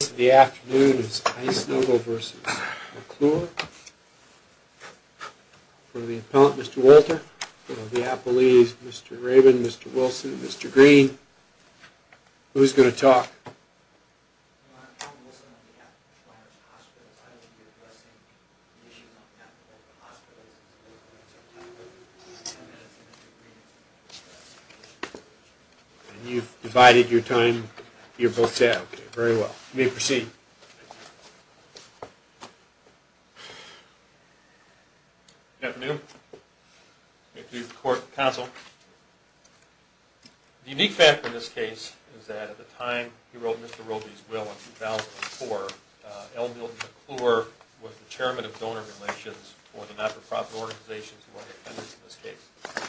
For the appellant, Mr. Walter. For the appellees, Mr. Rabin, Mr. Wilson, Mr. Green. Who's going to talk? You've divided your time. You're both set. Okay. Very well. You may proceed. Good afternoon. May it please the court and counsel. The unique fact in this case is that at the time he wrote Mr. Roby's will in 2004, L. Milton McClure was the Chairman of Donor Relations for the not-for-profit organizations who are the offenders in this case.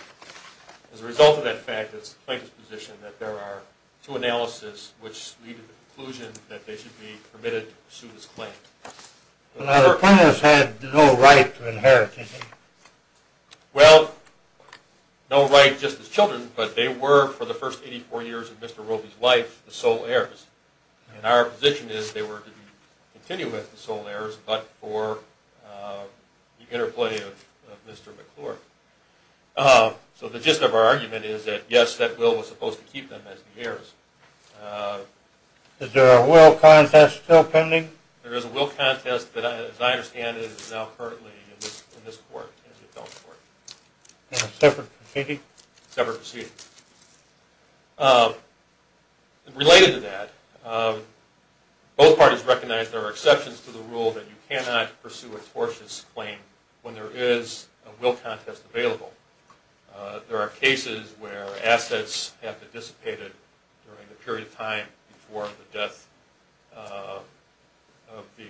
As a result of that fact, it's the plaintiff's position that there are two analyses which lead to the conclusion that they should be permitted to pursue this claim. The plaintiffs had no right to inherit, did they? So the gist of our argument is that yes, that will was supposed to keep them as the heirs. Is there a will contest still pending? There is a will contest, but as I understand it, it is now currently in this court. Separate proceeding. Related to that, both parties recognize there are exceptions to the rule that you cannot pursue a tortious claim when there is a will contest available. There are cases where assets have been dissipated during the period of time before the death of the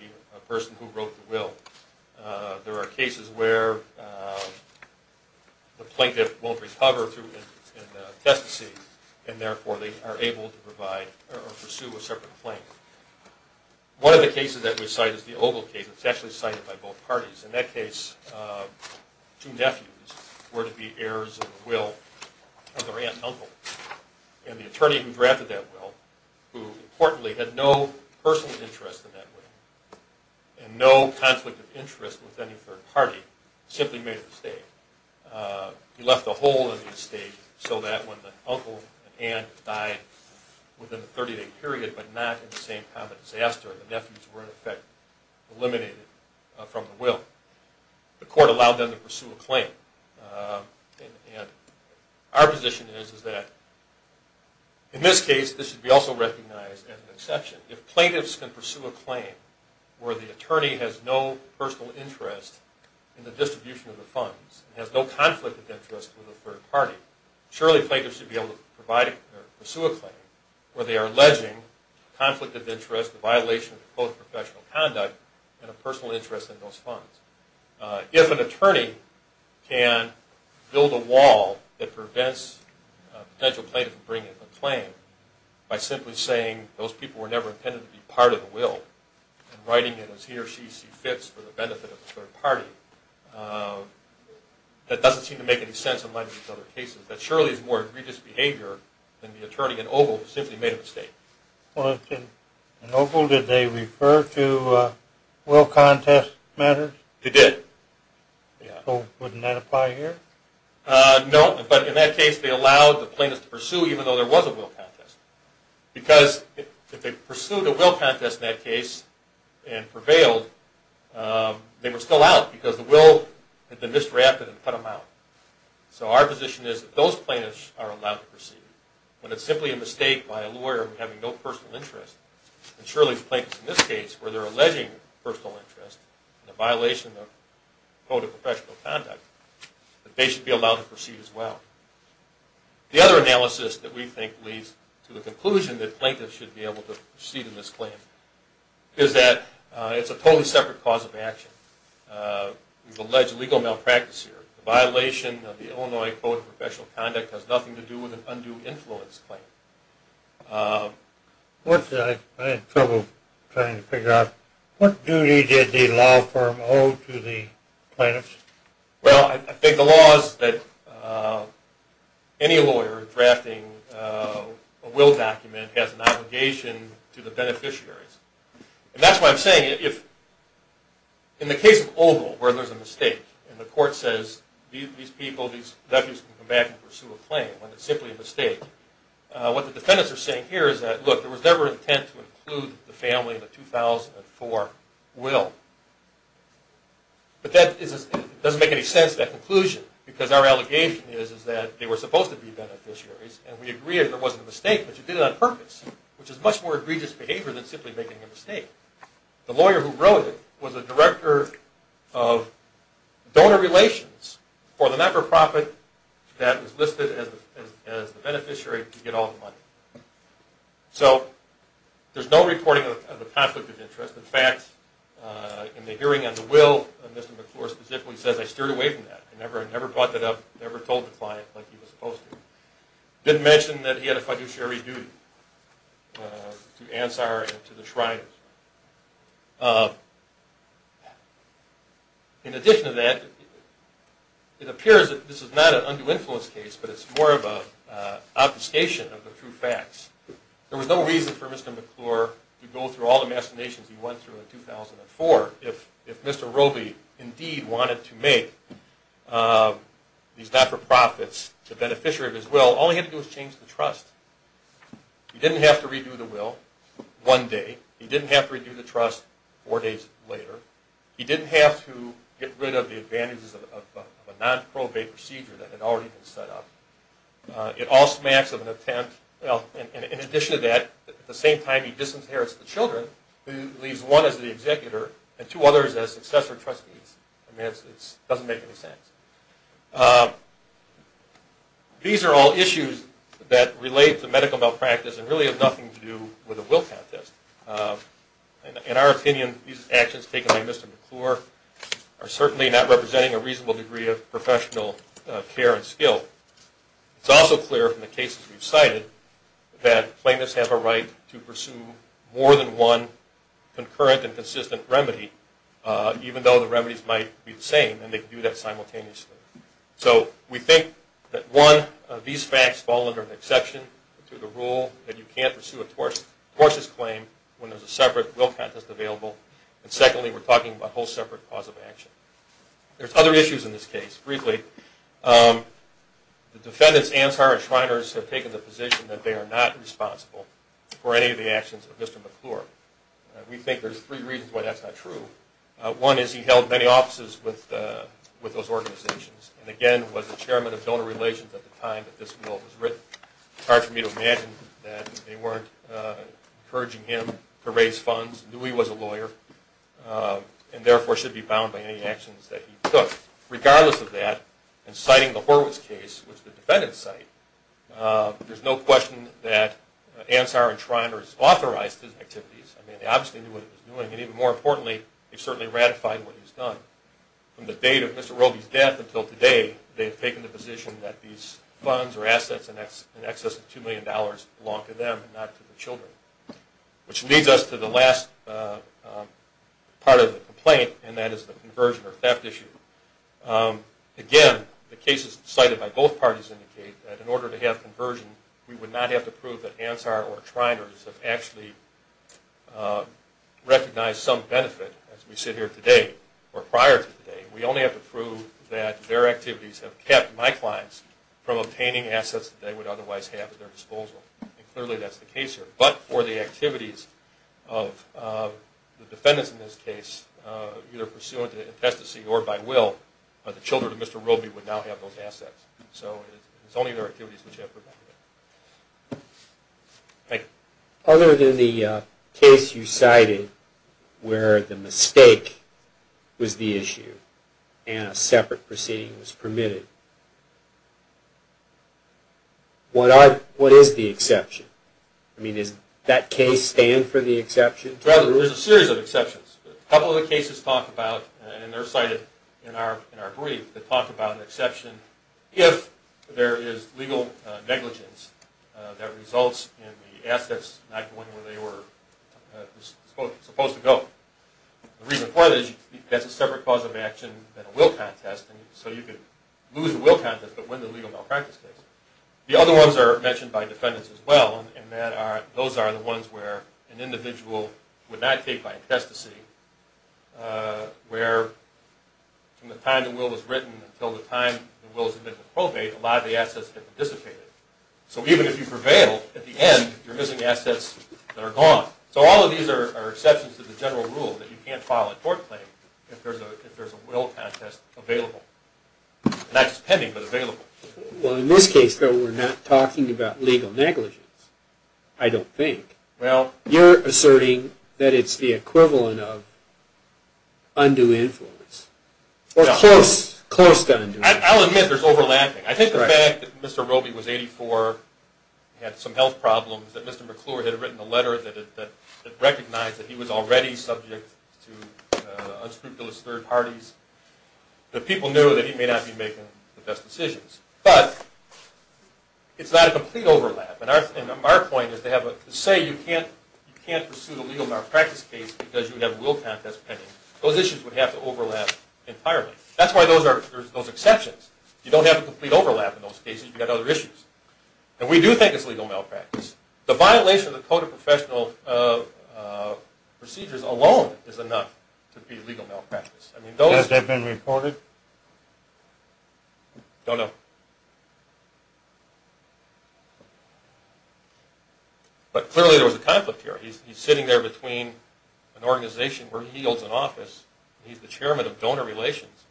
person who wrote the will. There are cases where the plaintiff won't recover through intestacy and therefore they are able to provide or pursue a separate claim. One of the cases that we cite is the Ogle case. It's actually cited by both parties. In that case, two nephews were to be heirs of the will of their aunt and uncle. And the attorney who drafted that will, who importantly had no personal interest in that will, and no conflict of interest with any third party, simply made a mistake. He left a hole in the estate so that when the uncle and aunt died within a 30-day period but not in the same kind of disaster, the nephews were in effect eliminated from the will. The court allowed them to pursue a claim. Our position is that in this case, this should be also recognized as an exception. If plaintiffs can pursue a claim where the attorney has no personal interest in the distribution of the funds, has no conflict of interest with a third party, surely plaintiffs should be able to pursue a claim where they are alleging conflict of interest, a violation of both professional conduct, and a personal interest in those funds. If an attorney can build a wall that prevents a potential plaintiff from bringing a claim by simply saying those people were never intended to be part of the will and writing it as he or she sees fit for the benefit of the third party, that doesn't seem to make any sense in light of these other cases. That surely is more egregious behavior than the attorney in Ogle who simply made a mistake. In Ogle, did they refer to will contest matters? They did. Wouldn't that apply here? No, but in that case they allowed the plaintiffs to pursue even though there was a will contest. Because if they pursued a will contest in that case and prevailed, they were still out because the will had been misdrafted and put them out. So our position is that those plaintiffs are allowed to pursue. When it's simply a mistake by a lawyer having no personal interest, and surely the plaintiffs in this case where they're alleging personal interest and a violation of quote, a professional conduct, that they should be allowed to pursue as well. The other analysis that we think leads to the conclusion that plaintiffs should be able to proceed in this claim is that it's a totally separate cause of action. We've alleged legal malpractice here. The violation of the Illinois Code of Professional Conduct has nothing to do with an undue influence claim. I had trouble trying to figure out what duty did the law firm owe to the plaintiffs? Well, I think the law is that any lawyer drafting a will document has an obligation to the beneficiaries. And that's why I'm saying if in the case of Ogle where there's a mistake and the court says these people, these nephews can come back and pursue a claim when it's simply a mistake, what the defendants are saying here is that look, there was never intent to include the family in the 2004 will. But that doesn't make any sense, that conclusion, because our allegation is that they were supposed to be beneficiaries and we agree that it wasn't a mistake, but you did it on purpose, which is much more egregious behavior than simply making a mistake. The lawyer who wrote it was a director of donor relations for the not-for-profit that was listed as the beneficiary to get all the money. So there's no reporting of a conflict of interest. In fact, in the hearing on the will, Mr. McClure specifically says, I steered away from that, I never brought that up, never told the client like he was supposed to. Didn't mention that he had a fiduciary duty to Ansar and to the Shrines. In addition to that, it appears that this is not an undue influence case, but it's more of an obfuscation of the true facts. There was no reason for Mr. McClure to go through all the machinations he went through in 2004 if Mr. Roby indeed wanted to make these not-for-profits the beneficiary of his will. All he had to do was change the trust. He didn't have to redo the will one day. He didn't have to redo the trust four days later. He didn't have to get rid of the advantages of a non-probate procedure that had already been set up. It all smacks of an attempt, well, in addition to that, at the same time he disinherits the children, leaves one as the executor and two others as successor trustees. I mean, it doesn't make any sense. These are all issues that relate to medical malpractice and really have nothing to do with the will contest. In our opinion, these actions taken by Mr. McClure are certainly not representing a reasonable degree of professional care and skill. It's also clear from the cases we've cited that plaintiffs have a right to pursue more than one concurrent and consistent remedy even though the remedies might be the same and they can do that simultaneously. So we think that, one, these facts fall under an exception to the rule that you can't pursue a tortuous claim when there's a separate will contest available. And secondly, we're talking about a whole separate cause of action. There's other issues in this case. Briefly, the defendants, Ansar and Shriners, have taken the position that they are not responsible for any of the actions of Mr. McClure. We think there's three reasons why that's not true. One is he held many offices with those organizations and, again, was the chairman of donor relations at the time that this will was written. It's hard for me to imagine that they weren't encouraging him to raise funds, knew he was a lawyer, and therefore should be bound by any actions that he took. Regardless of that, in citing the Horowitz case, which the defendants cite, there's no question that Ansar and Shriners authorized his activities. I mean, they obviously knew what he was doing, and even more importantly, they've certainly ratified what he's done. From the date of Mr. Roby's death until today, they've taken the position that these funds or assets in excess of $2 million belong to them and not to the children. Which leads us to the last part of the complaint, and that is the conversion or theft issue. Again, the cases cited by both parties indicate that in order to have conversion, we would not have to prove that Ansar or Shriners have actually recognized some benefit, as we sit here today or prior to today. We only have to prove that their activities have kept my clients from obtaining assets that they would otherwise have at their disposal. And clearly that's the case here. But for the activities of the defendants in this case, either pursuant to infestacy or by will, the children of Mr. Roby would now have those assets. So it's only their activities which have prevented it. Thank you. Other than the case you cited where the mistake was the issue and a separate proceeding was permitted, what is the exception? I mean, does that case stand for the exception? There's a series of exceptions. A couple of the cases talk about, and they're cited in our brief, that talk about an exception if there is legal negligence that results in the assets not going where they were supposed to go. The reason for that is that's a separate cause of action than a will contest, and so you could lose a will contest but win the legal malpractice case. The other ones are mentioned by defendants as well, and those are the ones where an individual would not take by infestacy, where from the time the will was written until the time the will was admitted to probate, a lot of the assets had dissipated. So even if you prevail, at the end you're missing assets that are gone. So all of these are exceptions to the general rule that you can't file a tort claim if there's a will contest available, not just pending but available. Well, in this case, though, we're not talking about legal negligence, I don't think. Well. You're asserting that it's the equivalent of undue influence or close to undue influence. I'll admit there's overlapping. I think the fact that Mr. Roby was 84, had some health problems, that Mr. McClure had written a letter that recognized that he was already subject to unscrupulous third parties, that people knew that he may not be making the best decisions. But it's not a complete overlap, and our point is to say you can't pursue the legal malpractice case because you have a will contest pending. Those issues would have to overlap entirely. That's why there's those exceptions. You don't have a complete overlap in those cases. You've got other issues. And we do think it's legal malpractice. The violation of the Code of Professional Procedures alone is enough to be legal malpractice. Does that have been reported? Don't know. But clearly there was a conflict here. He's sitting there between an organization where he holds an office, he's the chairman of donor relations,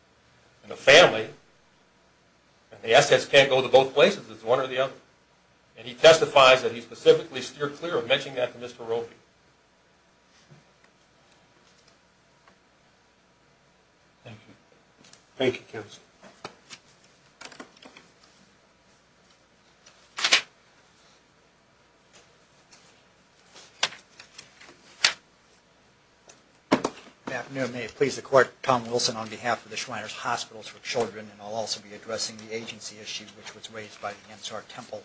and a family, and the assets can't go to both places. It's one or the other. And he testifies that he specifically steered clear of mentioning that to Mr. Roby. Thank you. Thank you, counsel. Good afternoon. Your Honor, may it please the Court, Tom Wilson on behalf of the Schweiner's Hospitals for Children, and I'll also be addressing the agency issue which was raised by the Ansar Temple.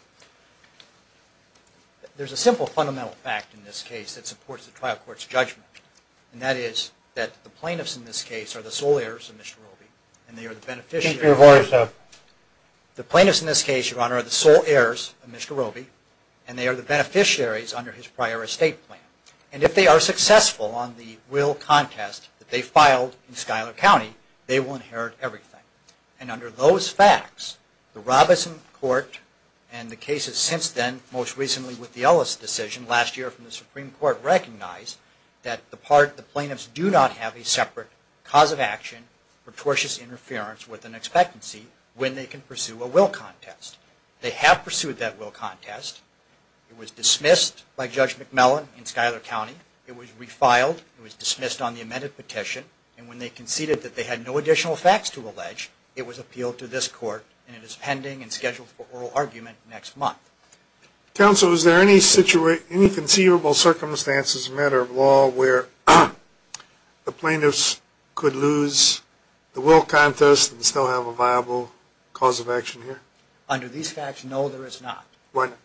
There's a simple fundamental fact in this case that supports the trial court's judgment, and that is that the plaintiffs in this case are the sole heirs of Mr. Roby, and they are the beneficiaries. Keep your voice up. The plaintiffs in this case, Your Honor, are the sole heirs of Mr. Roby, and they are the beneficiaries under his prior estate plan. And if they are successful on the will contest that they filed in Schuyler County, they will inherit everything. And under those facts, the Robeson Court and the cases since then, most recently with the Ellis decision last year from the Supreme Court, recognized that the plaintiffs do not have a separate cause of action for tortious interference with an expectancy when they can pursue a will contest. They have pursued that will contest. It was dismissed by Judge McMillan in Schuyler County. It was refiled. It was dismissed on the amended petition. And when they conceded that they had no additional facts to allege, it was appealed to this court, and it is pending and scheduled for oral argument next month. Counsel, is there any conceivable circumstances, matter of law, where the plaintiffs could lose the will contest and still have a viable cause of action here? Under these facts, no, there is not. Why not?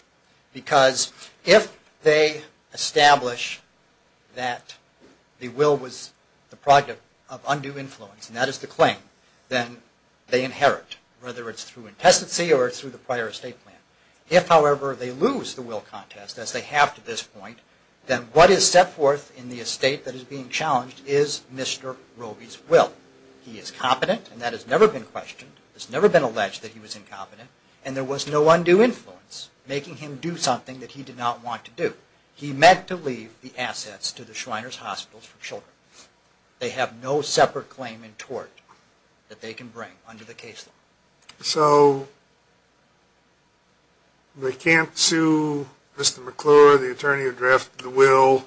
Because if they establish that the will was the product of undue influence, and that is the claim, then they inherit, whether it's through intestancy or it's through the prior estate plan. If, however, they lose the will contest, as they have to this point, then what is set forth in the estate that is being challenged is Mr. Robey's will. He is competent, and that has never been questioned. It has never been alleged that he was incompetent. And there was no undue influence making him do something that he did not want to do. He meant to leave the assets to the Shriners Hospitals for children. They have no separate claim in tort that they can bring under the case law. So they can't sue Mr. McClure, the attorney who drafted the will,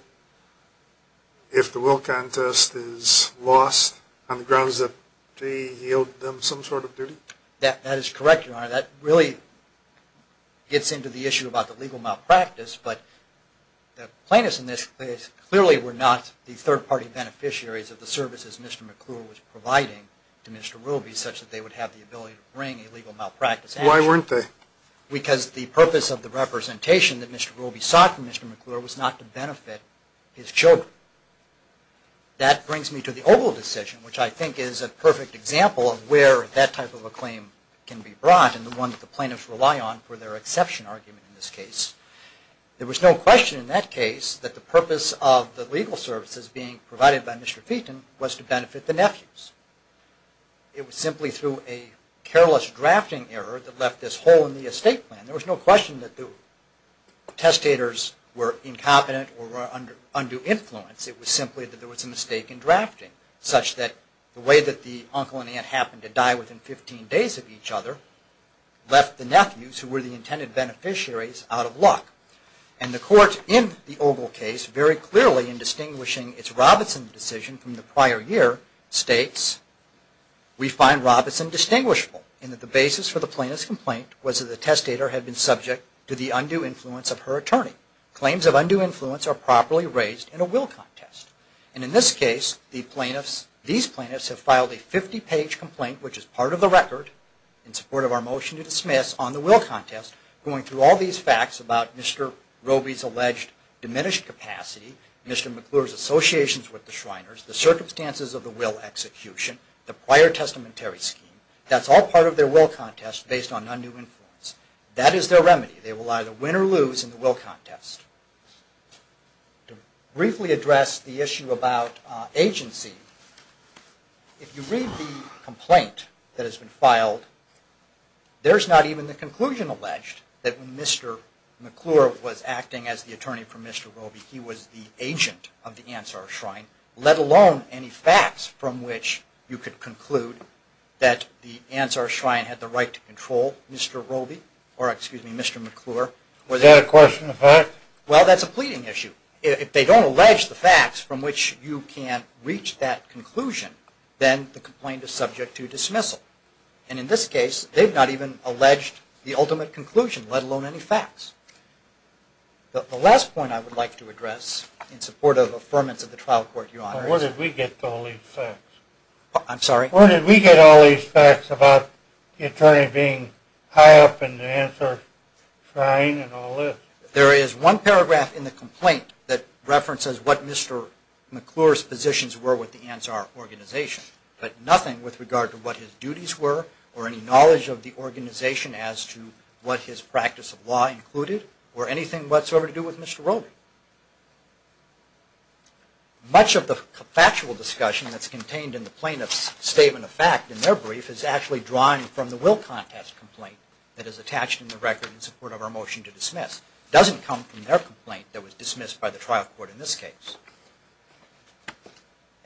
if the will contest is lost on the grounds that he yielded them some sort of duty? That is correct, Your Honor. That really gets into the issue about the legal malpractice, but the plaintiffs in this case clearly were not the third-party beneficiaries of the services Mr. McClure was providing to Mr. Robey such that they would have the ability to bring a legal malpractice action. Why weren't they? Because the purpose of the representation that Mr. Robey sought from Mr. McClure was not to benefit his children. That brings me to the Oval Decision, which I think is a perfect example of where that type of a claim can be brought and the one that the plaintiffs rely on for their exception argument in this case. There was no question in that case that the purpose of the legal services being provided by Mr. Featon was to benefit the nephews. It was simply through a careless drafting error that left this hole in the estate plan. There was no question that the testators were incompetent or were under influence. It was simply that there was a mistake in drafting, such that the way that the uncle and aunt happened to die within 15 days of each other left the nephews, who were the intended beneficiaries, out of luck. And the court in the Oval Case, very clearly in distinguishing its Robinson decision from the prior year, states, We find Robinson distinguishable in that the basis for the plaintiff's complaint was that the testator had been subject to the undue influence of her attorney. Claims of undue influence are properly raised in a will contest. And in this case, these plaintiffs have filed a 50-page complaint, which is part of the record, in support of our motion to dismiss, on the will contest, going through all these facts about Mr. Roby's alleged diminished capacity, Mr. McClure's associations with the Shriners, the circumstances of the will execution, the prior testamentary scheme. That's all part of their will contest based on undue influence. That is their remedy. They will either win or lose in the will contest. To briefly address the issue about agency, if you read the complaint that has been filed, there's not even the conclusion alleged that Mr. McClure was acting as the attorney for Mr. Roby. He was the agent of the Ansar Shrine, let alone any facts from which you could conclude that the Ansar Shrine had the right to control Mr. Roby, or excuse me, Mr. McClure. Is that a question of fact? Well, that's a pleading issue. If they don't allege the facts from which you can't reach that conclusion, then the complaint is subject to dismissal. And in this case, they've not even alleged the ultimate conclusion, let alone any facts. The last point I would like to address in support of affirmance of the trial court, Your Honor, Where did we get all these facts? I'm sorry? Where did we get all these facts about the attorney being high up in the Ansar Shrine and all this? There is one paragraph in the complaint that references what Mr. McClure's positions were with the Ansar organization, but nothing with regard to what his duties were, or any knowledge of the organization as to what his practice of law included, or anything whatsoever to do with Mr. Roby. Much of the factual discussion that's contained in the plaintiff's statement of fact in their brief is actually drawn from the will contest complaint that is attached in the record in support of our motion to dismiss. It doesn't come from their complaint that was dismissed by the trial court in this case.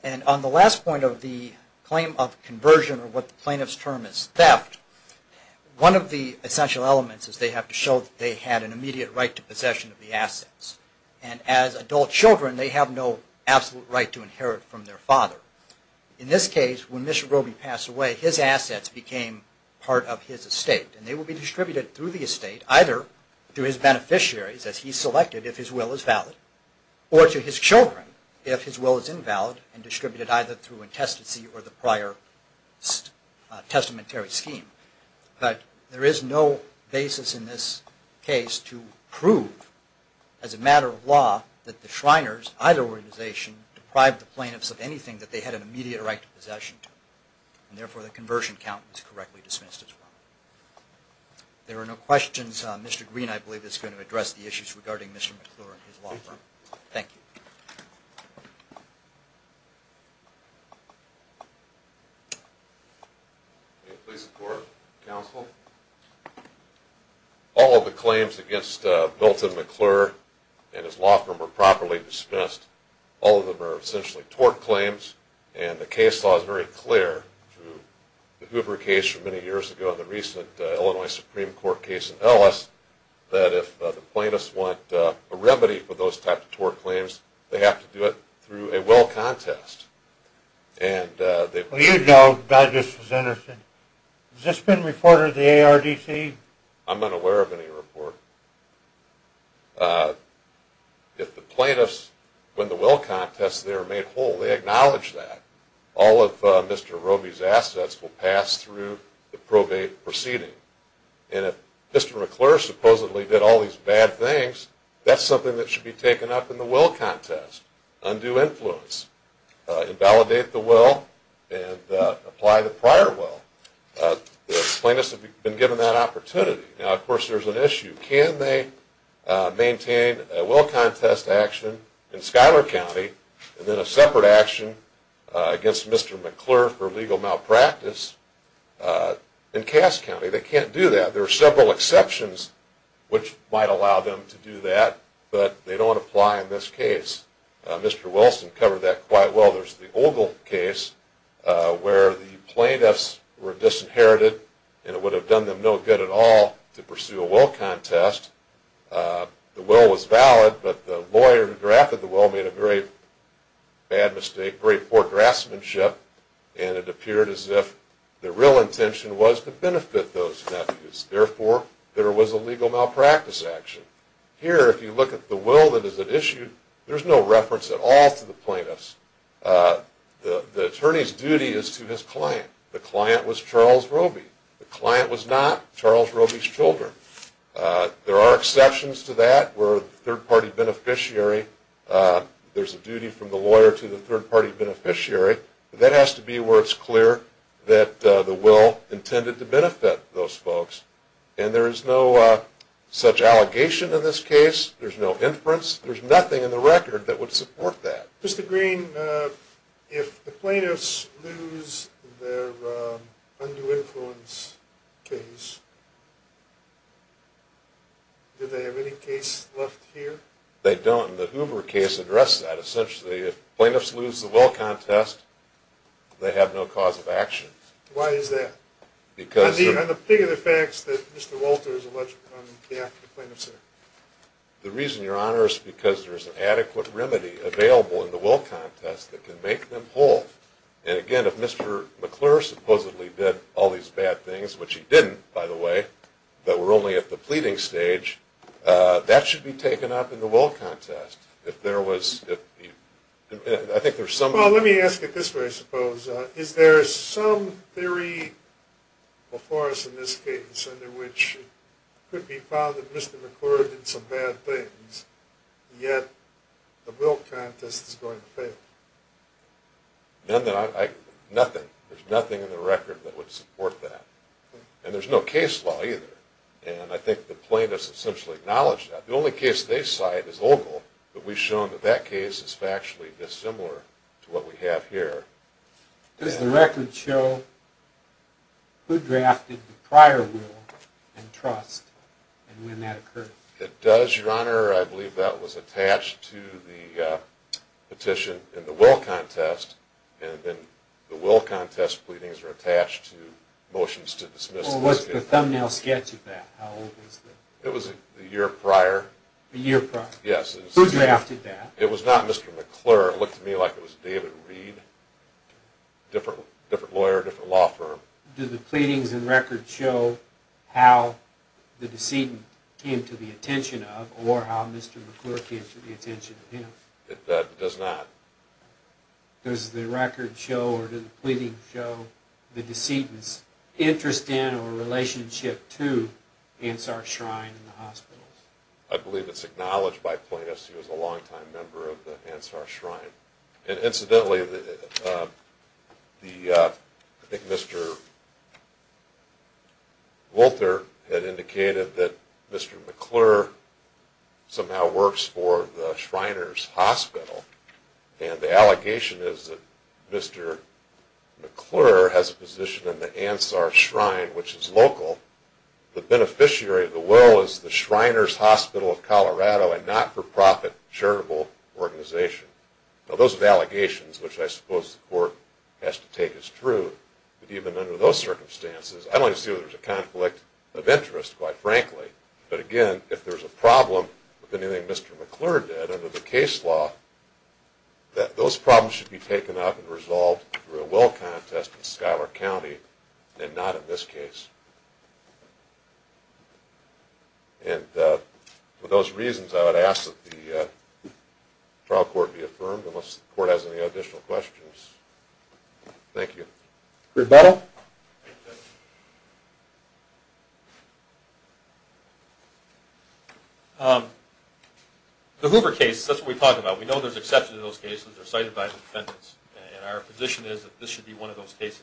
And on the last point of the claim of conversion, or what the plaintiff's term is, theft, one of the essential elements is they have to show that they had an immediate right to possession of the assets. And as adult children, they have no absolute right to inherit from their father. In this case, when Mr. Roby passed away, his assets became part of his estate, and they will be distributed through the estate either to his beneficiaries, as he selected, if his will is valid, or to his children if his will is invalid and distributed either through intestacy or the prior testamentary scheme. But there is no basis in this case to prove, as a matter of law, that the Shriners, either organization, deprived the plaintiffs of anything that they had an immediate right to possession. And therefore, the conversion count was correctly dismissed as well. There are no questions. Mr. Green, I believe, is going to address the issues regarding Mr. McClure and his law firm. Thank you. All of the claims against Milton McClure and his law firm were properly dismissed. All of them are essentially tort claims, and the case law is very clear. The Hoover case from many years ago and the recent Illinois Supreme Court case in Ellis, that if the plaintiffs want a remedy for those types of tort claims, they have to go to the Supreme Court. They have to do it through a will contest. Well, you know, God just was interested. Has this been reported to the ARDC? I'm unaware of any report. If the plaintiffs win the will contest, they are made whole. They acknowledge that. All of Mr. Roby's assets will pass through the probate proceeding. And if Mr. McClure supposedly did all these bad things, that's something that should be taken up in the will contest. Undue influence. Invalidate the will and apply the prior will. The plaintiffs have been given that opportunity. Now, of course, there's an issue. Can they maintain a will contest action in Schuyler County and then a separate action against Mr. McClure for legal malpractice in Cass County? They can't do that. There are several exceptions which might allow them to do that, but they don't apply in this case. Mr. Wilson covered that quite well. There's the Ogle case where the plaintiffs were disinherited and it would have done them no good at all to pursue a will contest. The will was valid, but the lawyer who drafted the will made a very bad mistake, very poor draftsmanship, and it appeared as if the real intention was to benefit those nephews. Therefore, there was a legal malpractice action. Here, if you look at the will that is at issue, there's no reference at all to the plaintiffs. The attorney's duty is to his client. The client was Charles Roby. The client was not Charles Roby's children. There are exceptions to that where the third-party beneficiary, there's a duty from the lawyer to the third-party beneficiary, but that has to be where it's clear that the will intended to benefit those folks. And there is no such allegation in this case. There's no inference. There's nothing in the record that would support that. Mr. Green, if the plaintiffs lose their undue influence case, do they have any case left here? They don't. The Hoover case addressed that. Essentially, if plaintiffs lose the will contest, they have no cause of action. Why is that? On the particular facts that Mr. Walter is alleged on behalf of the plaintiffs there? The reason, Your Honor, is because there's an adequate remedy available in the will contest that can make them whole. And again, if Mr. McClure supposedly did all these bad things, which he didn't, by the way, that were only at the pleading stage, that should be taken up in the will contest. If there was, if you, I think there's some... Well, let me ask it this way, I suppose. Is there some theory before us in this case under which it could be found that Mr. McClure did some bad things, yet the will contest is going to fail? None that I, nothing. There's nothing in the record that would support that. And there's no case law either. And I think the plaintiffs essentially acknowledge that. The only case they cite is Ogle, but we've shown that that case is factually dissimilar to what we have here. Does the record show who drafted the prior will and trust, and when that occurred? It does, Your Honor. I believe that was attached to the petition in the will contest, and then the will contest pleadings are attached to motions to dismiss... Well, what's the thumbnail sketch of that? How old was that? It was a year prior. A year prior? Yes. Who drafted that? It was not Mr. McClure. It looked to me like it was David Reed. Different lawyer, different law firm. Do the pleadings and records show how the decedent came to the attention of, or how Mr. McClure came to the attention of him? It does not. Does the record show or do the pleadings show the decedent's interest in or relationship to Ansar Shrine and the hospitals? I believe it's acknowledged by plaintiffs he was a long-time member of the Ansar Shrine. Incidentally, I think Mr. Wolter had indicated that Mr. McClure somehow works for the Shriners Hospital, and the allegation is that Mr. McClure has a position in the Ansar Shrine, which is local. The beneficiary of the will is the Shriners Hospital of Colorado, a not-for-profit charitable organization. Now those are allegations, which I suppose the court has to take as true. But even under those circumstances, I don't want to see whether there's a conflict of interest, quite frankly. But again, if there's a problem with anything Mr. McClure did under the case law, those problems should be taken up and resolved through a will contest in Schuyler County, and not in this case. And for those reasons, I would ask that the trial court be affirmed, unless the court has any additional questions. Thank you. Rebuttal? The Hoover case, that's what we talk about. We know there's exception to those cases. They're site-advised defendants, and our position is that this should be one of those cases.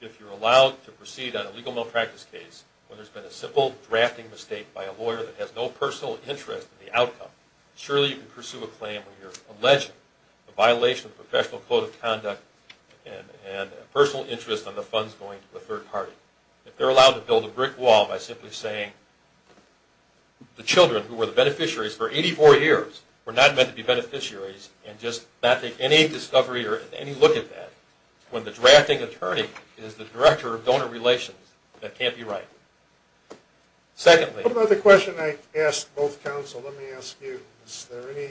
If you're allowed to proceed on a legal malpractice case, where there's been a simple drafting mistake by a lawyer that has no personal interest in the outcome, surely you can pursue a claim where you're alleging a violation of the Professional Code of Conduct and a personal interest on the funds going to the third party. If they're allowed to build a brick wall by simply saying the children, who were the beneficiaries for 84 years, were not meant to be beneficiaries, and just not take any discovery or any look at that, when the drafting attorney is the director of donor relations, that can't be right. What about the question I asked both counsels? Let me ask you, is there any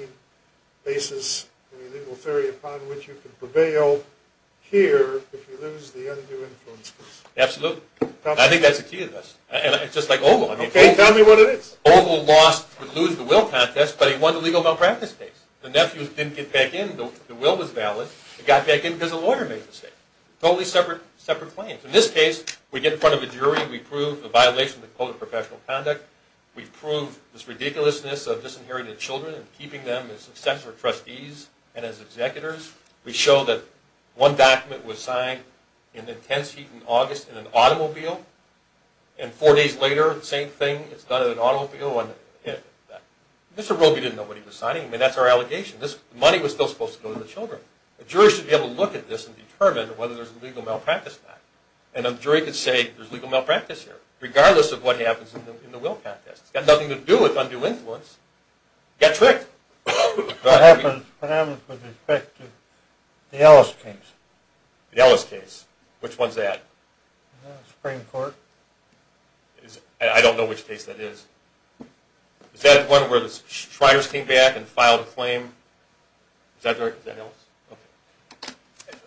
basis, any legal theory upon which you can prevail here if you lose the undue influence case? Absolutely. I think that's the key to this. It's just like Ogle. Okay, tell me what it is. Ogle lost the lose the will contest, but he won the legal malpractice case. The nephews didn't get back in. The will was valid. They got back in because a lawyer made a mistake. Totally separate claims. In this case, we get in front of a jury. We prove the violation of the Code of Professional Conduct. We prove this ridiculousness of disinherited children and keeping them as successful trustees and as executors. We show that one document was signed in the intense heat in August in an automobile, and four days later, the same thing is done in an automobile. Mr. Roby didn't know what he was signing. I mean, that's our allegation. This money was still supposed to go to the children. A jury should be able to look at this and determine whether there's a legal malpractice in that. And a jury could say there's legal malpractice here, regardless of what happens in the will contest. It's got nothing to do with undue influence. Get tricked. What happens with respect to the Ellis case? The Ellis case. Which one's that? The Supreme Court. I don't know which case that is. Is that one where the Shriners came back and filed a claim? Is that the Ellis? Okay.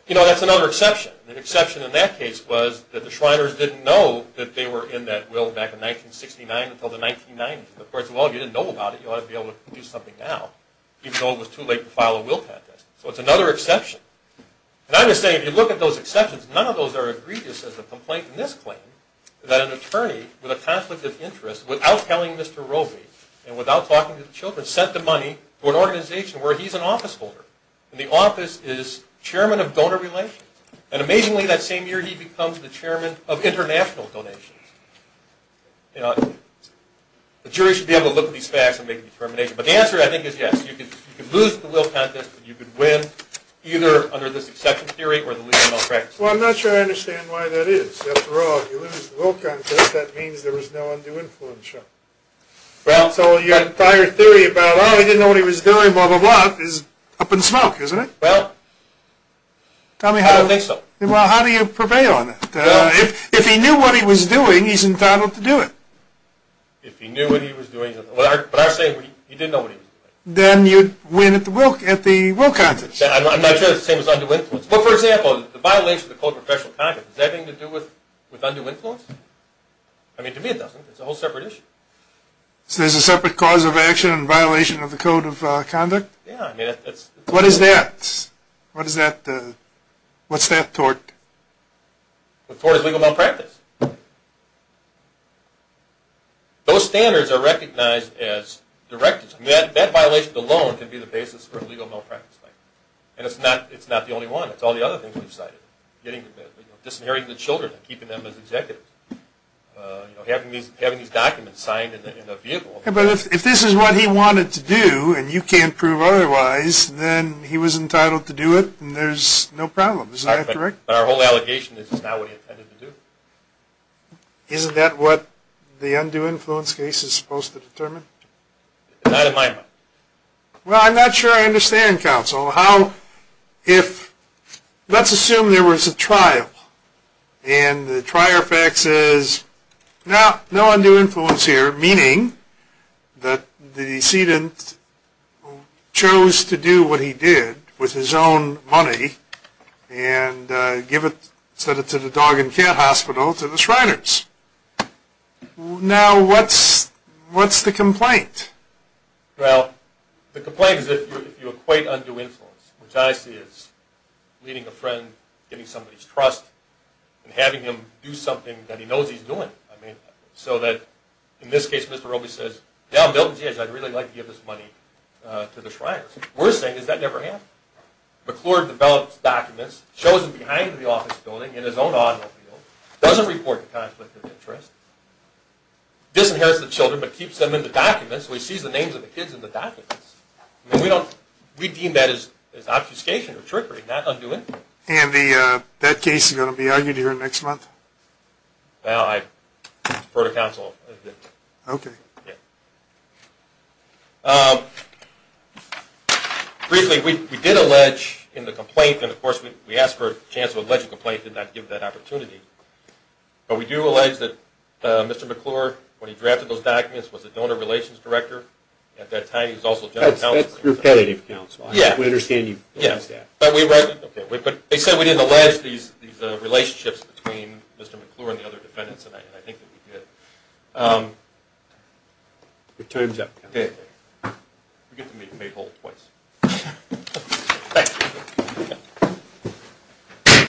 You know, that's another exception. The exception in that case was that the Shriners didn't know that they were in that will back in 1969 until the 1990s. Of course, well, if you didn't know about it, you ought to be able to do something now, even though it was too late to file a will contest. So it's another exception. And I'm just saying, if you look at those exceptions, none of those are egregious as a complaint in this claim, that an attorney with a conflict of interest, without telling Mr. Robey and without talking to the children, sent the money to an organization where he's an office holder. And the office is chairman of donor relations. And amazingly, that same year, he becomes the chairman of international donations. You know, the jury should be able to look at these facts and make a determination. But the answer, I think, is yes. You could lose the will contest, but you could win either under this exception theory or the legal malpractice theory. Well, I'm not sure I understand why that is. After all, if you lose the will contest, that means there was no undue influence. Well, so your entire theory about, oh, he didn't know what he was doing, blah, blah, blah, is up in smoke, isn't it? Well, I don't think so. Well, how do you prevail on it? If he knew what he was doing, he's entitled to do it. If he knew what he was doing, but I'm saying he didn't know what he was doing. Then you'd win at the will contest. I'm not sure that's the same as undue influence. Well, for example, the violation of the Code of Professional Conduct, is that anything to do with undue influence? I mean, to me it doesn't. It's a whole separate issue. So there's a separate cause of action in violation of the Code of Conduct? Yeah. What is that? What is that? What's that tort? The tort is legal malpractice. Those standards are recognized as directives. That violation alone can be the basis for legal malpractice. And it's not the only one. It's all the other things we've cited. Disinheriting the children and keeping them as executives. Having these documents signed in the vehicle. But if this is what he wanted to do, and you can't prove otherwise, then he was entitled to do it, and there's no problem. Is that correct? But our whole allegation is it's not what he intended to do. Isn't that what the undue influence case is supposed to determine? Not in my mind. Well, I'm not sure I understand, counsel, how if let's assume there was a trial, and the trial fact says, no, no undue influence here, meaning that the decedent chose to do what he did with his own money and give it to the dog and cat hospital to the Shriners. Now what's the complaint? Well, the complaint is if you equate undue influence, which I see as leading a friend, giving somebody his trust, and having him do something that he knows he's doing. I mean, so that in this case, Mr. Roby says, yeah, I'm building a church, I'd really like to give this money to the Shriners. Worst thing is that never happened. McClure develops documents, shows them behind the office building in his own automobile, doesn't report the conflict of interest, disinherits the children but keeps them in the documents, so he sees the names of the kids in the documents. We deem that as obfuscation or trickery, not undue influence. And that case is going to be argued here next month? Well, I've heard of counsel. Okay. Briefly, we did allege in the complaint, and, of course, we asked for a chance to allege a complaint and not give that opportunity. But we do allege that Mr. McClure, when he drafted those documents, was a donor relations director. At that time, he was also general counsel. That's repetitive counsel. Yeah. We understand you've used that. Yeah. But they said we didn't allege these relationships between Mr. McClure and the other defendants, and I think that we did. Your time's up, counsel. Okay. We get to meet Maypole twice. Thank you.